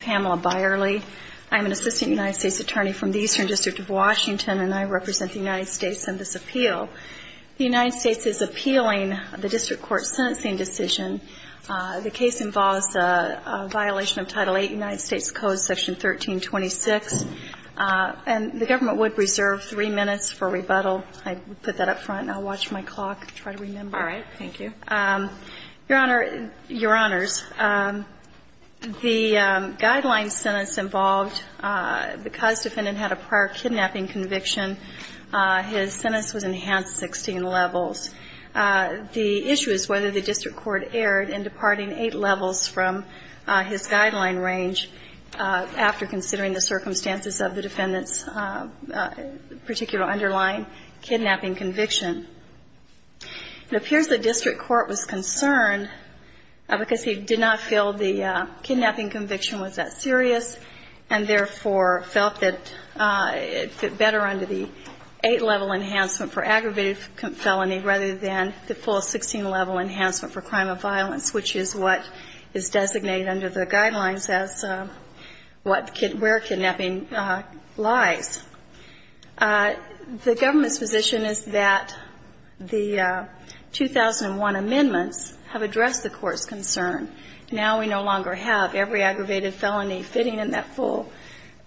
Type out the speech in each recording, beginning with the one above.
Pamela Byerly, I'm an assistant United States attorney from the Eastern District of Washington and I represent the United States in this appeal. The United States is appealing the district court's sentencing decision. The case involves a violation of Title VIII United States Code, Section 1326. And the government would reserve three minutes for rebuttal. I put that up front and I'll watch my clock and try to remember. All right. Thank you. Your Honor, Your Honors, the guideline sentence involved, because defendant had a prior kidnapping conviction, his sentence was enhanced 16 levels. The issue is whether the district court erred in departing eight levels from his guideline range after considering the circumstances of the defendant's particular underlying kidnapping conviction. It appears the district court was concerned because he did not feel the kidnapping conviction was that serious and therefore felt that it fit better under the eight-level enhancement for aggravated felony rather than the full 16-level enhancement for crime of violence, which is what is designated under the guidelines as where kidnapping lies. The government's position is that the 2001 amendments have addressed the court's concern. Now we no longer have every aggravated felony fitting in that full,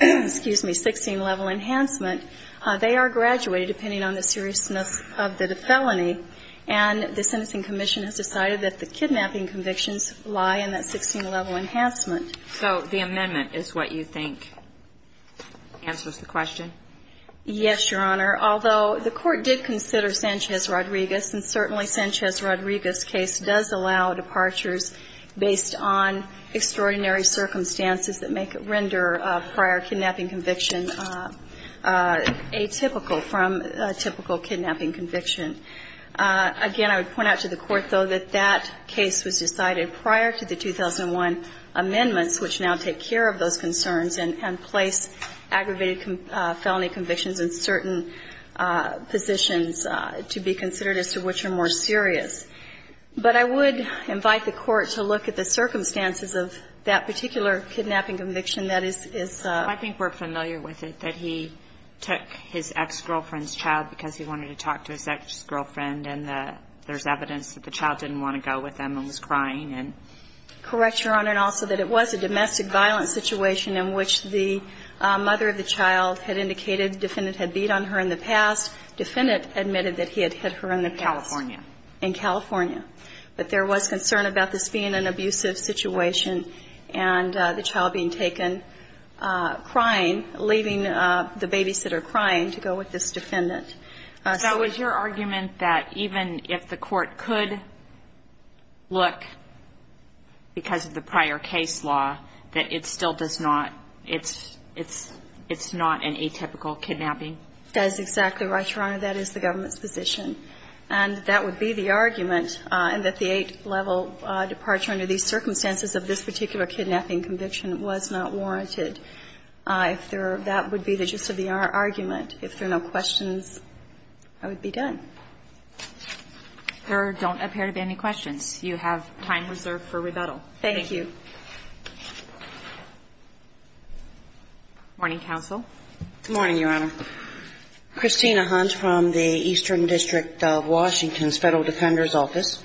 excuse me, 16-level enhancement. They are graduated depending on the seriousness of the felony. And the Sentencing Commission has decided that the kidnapping convictions lie in that 16-level enhancement. So the amendment is what you think answers the question? Yes, Your Honor. Although the court did consider Sanchez-Rodriguez, and certainly Sanchez-Rodriguez case does allow departures based on extraordinary circumstances that make it render prior kidnapping conviction atypical from a typical kidnapping conviction. Again, I would point out to the court, though, that that case was decided prior to the 2001 amendments, which now take care of those concerns and place aggravated felony convictions in certain positions to be considered as to which are more serious. But I would invite the court to look at the circumstances of that particular kidnapping conviction that is. I think we're familiar with it, that he took his ex-girlfriend's child because he wanted to talk to his ex-girlfriend, and there's evidence that the child didn't want to go with him and was crying. Correct, Your Honor. And also that it was a domestic violence situation in which the mother of the child had indicated the defendant had beat on her in the past. The defendant admitted that he had hit her in the past. In California. In California. But there was concern about this being an abusive situation and the child being taken crying, leaving the babysitter crying to go with this defendant. That was your argument that even if the court could look, because of the prior case law, that it still does not, it's not an atypical kidnapping? That is exactly right, Your Honor. That is the government's position. And that would be the argument, and that the Eight-Level departure under these circumstances of this particular kidnapping conviction was not warranted. That would be the gist of the argument. If there are no questions, I would be done. There don't appear to be any questions. You have time reserved for rebuttal. Thank you. Thank you. Morning, counsel. Good morning, Your Honor. Christina Hunt from the Eastern District of Washington's Federal Defender's Office.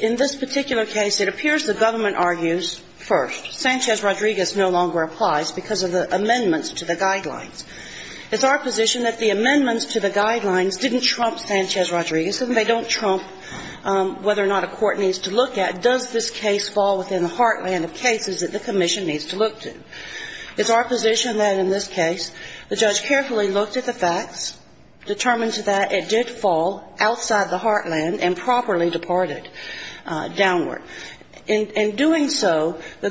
In this particular case, it appears the government argues first. It's our position that the amendments to the guidelines didn't trump Sanchez-Rodriguez and they don't trump whether or not a court needs to look at does this case fall within the heartland of cases that the commission needs to look to. It's our position that in this case, the judge carefully looked at the facts, determined to that it did fall outside the heartland and properly departed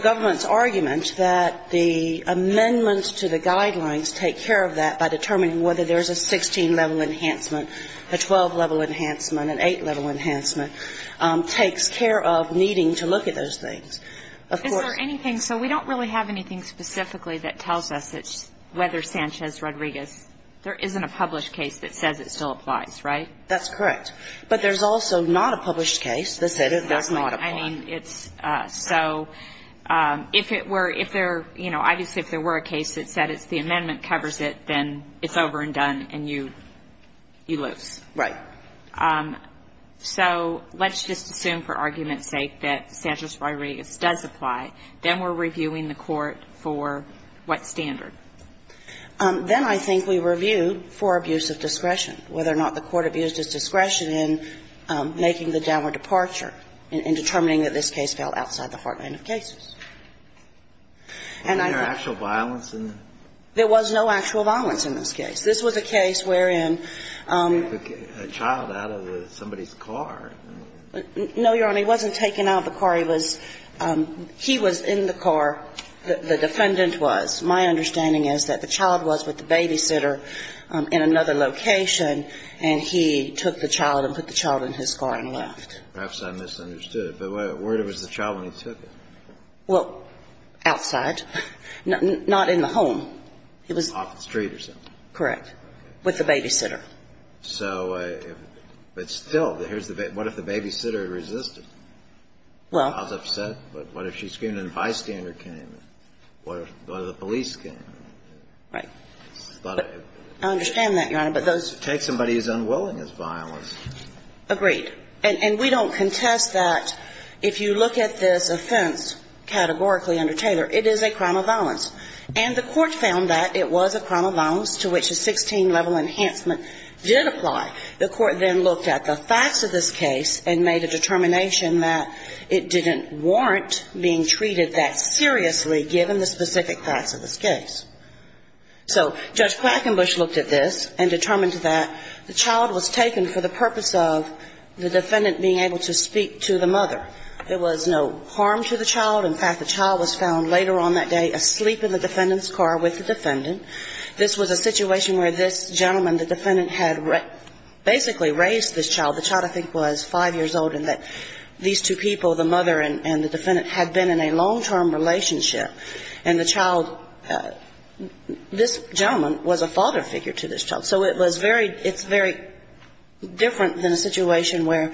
It's our argument that the amendments to the guidelines take care of that by determining whether there's a 16-level enhancement, a 12-level enhancement, an 8-level enhancement, takes care of needing to look at those things. Is there anything so we don't really have anything specifically that tells us that whether Sanchez-Rodriguez, there isn't a published case that says it still applies, right? That's correct. But there's also not a published case that says it doesn't apply. I mean, it's so, if it were, if there, you know, obviously if there were a case that said it's the amendment covers it, then it's over and done and you lose. Right. So let's just assume for argument's sake that Sanchez-Rodriguez does apply. Then we're reviewing the court for what standard? Then I think we review for abuse of discretion, whether or not the court abused its discretion in making the downward departure in determining that this case fell outside the heartland of cases. And I think there was no actual violence in this case. This was a case wherein a child out of somebody's car. No, Your Honor. He wasn't taken out of the car. He was in the car. The defendant was. My understanding is that the child was with the babysitter in another location and he took the child and put the child in his car and left. Perhaps I misunderstood. But where was the child when he took her? Well, outside. Not in the home. It was. Off the street or something. Correct. With the babysitter. So, but still, what if the babysitter resisted? Well. I was upset. But what if she screamed and a bystander came? What if the police came? Right. I understand that, Your Honor, but those. Take somebody as unwilling as violence. Agreed. And we don't contest that. If you look at this offense categorically under Taylor, it is a crime of violence. And the Court found that it was a crime of violence to which a 16-level enhancement did apply. The Court then looked at the facts of this case and made a determination that it didn't warrant being treated that seriously given the specific facts of this case. So Judge Quackenbush looked at this and determined that the child was taken for the purpose of the defendant being able to speak to the mother. There was no harm to the child. In fact, the child was found later on that day asleep in the defendant's car with the defendant. This was a situation where this gentleman, the defendant, had basically raised this child. The child, I think, was 5 years old and that these two people, the mother and the defendant, had been in a long-term relationship. And the child, this gentleman was a father figure to this child. So it was very, it's very different than a situation where,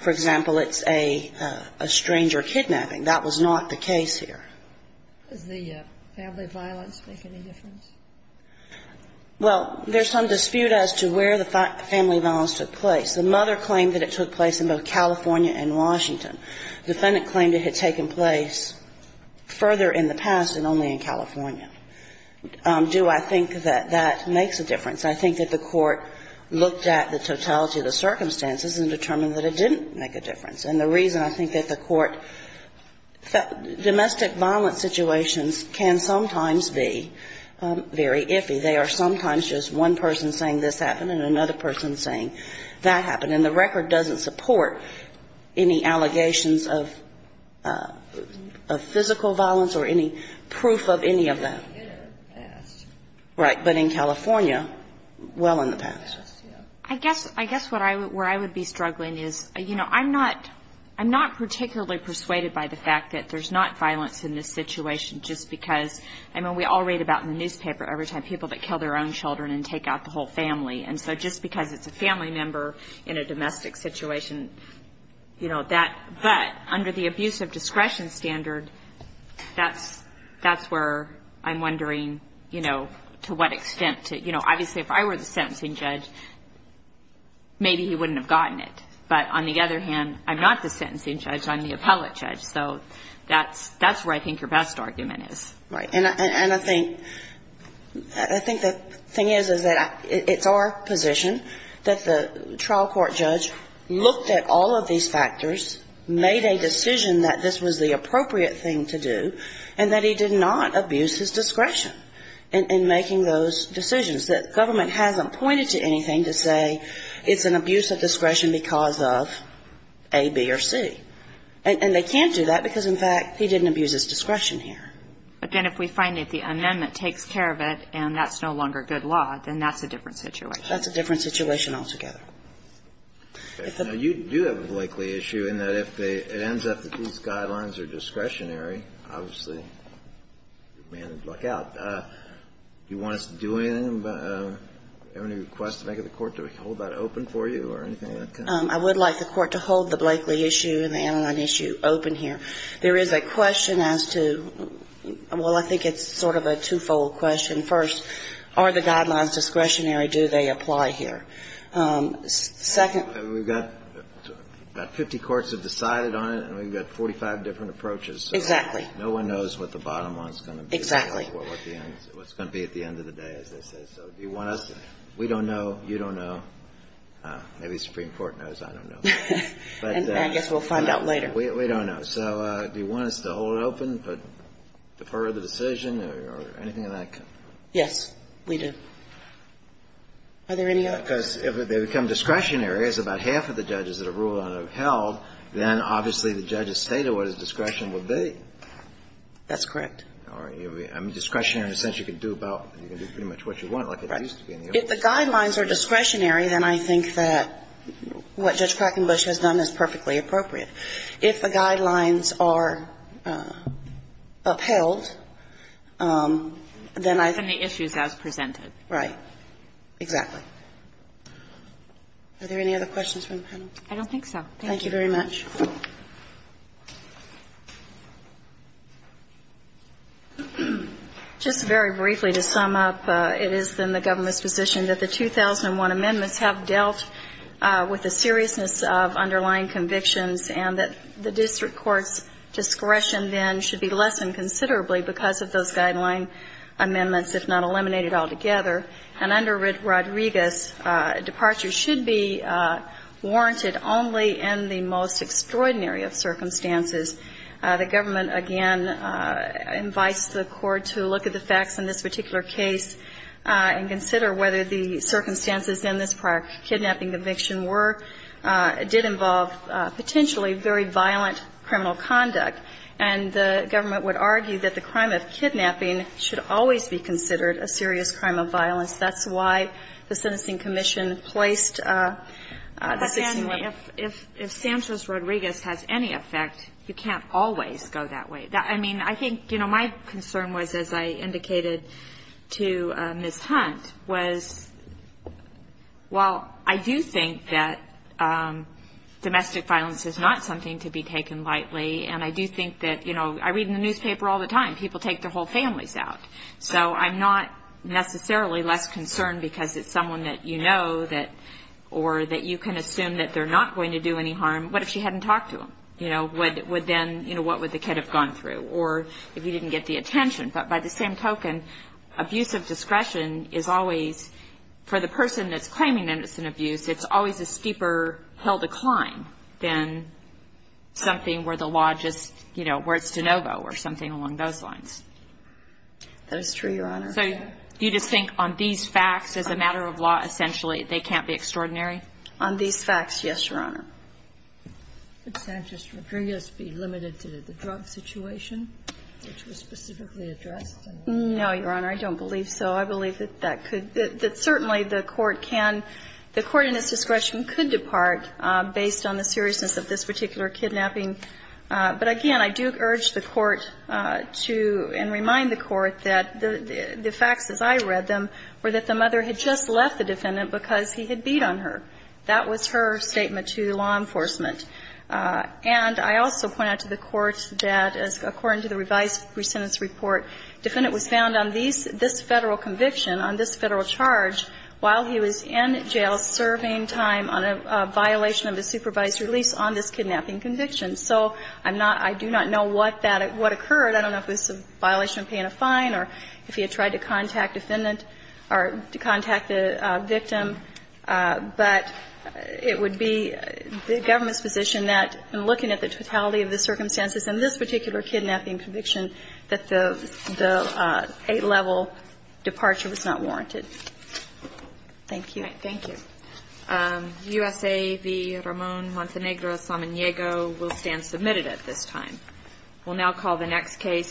for example, it's a stranger kidnapping. That was not the case here. Does the family violence make any difference? Well, there's some dispute as to where the family violence took place. The mother claimed that it took place in both California and Washington. The defendant claimed it had taken place further in the past and only in California. Do I think that that makes a difference? I think that the Court looked at the totality of the circumstances and determined that it didn't make a difference. And the reason I think that the Court felt domestic violence situations can sometimes be very iffy. They are sometimes just one person saying this happened and another person saying that happened. And the record doesn't support any allegations of physical violence or any proof of any of that. Right. But in California, well in the past. I guess where I would be struggling is, you know, I'm not particularly persuaded by the fact that there's not violence in this situation just because, I mean, we all read about in the newspaper every time people that kill their own children and take out the whole family. And so just because it's a family member in a domestic situation, you know, that but under the abuse of discretion standard, that's where I'm wondering, you know, to what extent to, you know, obviously if I were the sentencing judge, maybe he wouldn't have gotten it. But on the other hand, I'm not the sentencing judge, I'm the appellate judge. So that's where I think your best argument is. Right. And I think, I think the thing is, is that it's our position that the trial court judge looked at all of these factors, made a decision that this was the appropriate thing to do, and that he did not abuse his discretion in making those decisions, that government hasn't pointed to anything to say it's an abuse of discretion because of A, B, or C. And they can't do that because, in fact, he didn't abuse his discretion here. But then if we find that the amendment takes care of it and that's no longer good law, then that's a different situation. That's a different situation altogether. Okay. Now, you do have a Blakeley issue in that if they, it ends up that these guidelines are discretionary, obviously, you're a man of luck out. Do you want us to do anything, have any requests to make of the Court to hold that open for you or anything of that kind? I would like the Court to hold the Blakeley issue and the Aniline issue open here. There is a question as to, well, I think it's sort of a two-fold question. First, are the guidelines discretionary? Do they apply here? Second. We've got 50 courts have decided on it, and we've got 45 different approaches. Exactly. No one knows what the bottom one is going to be. Exactly. What's going to be at the end of the day, as they say. So do you want us to? We don't know. You don't know. Maybe the Supreme Court knows. I don't know. I guess we'll find out later. We don't know. So do you want us to hold it open, defer the decision or anything of that kind? Yes. We do. Are there any other? Because if they become discretionary, as about half of the judges that have ruled on it have held, then obviously the judge's state of what his discretion would be. That's correct. All right. Discretionary in the sense you can do about, you can do pretty much what you want like it used to be in the old days. Right. If the guidelines are discretionary, then I think that what Judge Krakenbusch has done is perfectly appropriate. If the guidelines are upheld, then I think that's what we're going to do. And the issues as presented. Right. Exactly. Are there any other questions from the panel? I don't think so. Thank you very much. Just very briefly to sum up, it is in the government's position that the 2001 amendments have dealt with the seriousness of underlying convictions and that the district court's discretion then should be lessened considerably because of those guideline amendments, if not eliminated altogether. And under Rodriguez, departure should be warranted only in the most extraordinary of circumstances. The government, again, invites the court to look at the facts in this particular case and consider whether the circumstances in this prior kidnapping conviction were, did involve potentially very violent criminal conduct. And the government would argue that the crime of kidnapping should always be considered a serious crime of violence. That's why the sentencing commission placed the 16- But then if Sanchez-Rodriguez has any effect, you can't always go that way. I think, you know, my concern was, as I indicated to Ms. Hunt, was while I do think that domestic violence is not something to be taken lightly, and I do think that, you know, I read in the newspaper all the time, people take their whole families out. So I'm not necessarily less concerned because it's someone that you know or that you can assume that they're not going to do any harm. What if she hadn't talked to them? You know, would then, you know, what would the kid have gone through? Or if he didn't get the attention. But by the same token, abuse of discretion is always, for the person that's claiming that it's an abuse, it's always a steeper hell to climb than something where the law just, you know, where it's de novo or something along those lines. That is true, Your Honor. So you just think on these facts, as a matter of law, essentially, they can't be extraordinary? On these facts, yes, Your Honor. Could Sanchez-Rodriguez be limited to the drug situation, which was specifically addressed? No, Your Honor. I don't believe so. I believe that that could be. That certainly the Court can, the Court in its discretion could depart based on the seriousness of this particular kidnapping. But again, I do urge the Court to, and remind the Court that the facts as I read them were that the mother had just left the defendant because he had beat on her. That was her statement to law enforcement. And I also point out to the Court that according to the revised presentence report, defendant was found on this Federal conviction, on this Federal charge while he was in jail serving time on a violation of a supervised release on this kidnapping conviction. So I'm not, I do not know what that, what occurred. I don't know if it was a violation of paying a fine or if he had tried to contact the defendant or to contact the victim. But it would be the government's position that in looking at the totality of the circumstances in this particular kidnapping conviction that the eight-level departure was not warranted. Thank you. All right. Thank you. U.S.A. v. Ramon Montenegro Samaniego will stand submitted at this time. We'll now call the next case.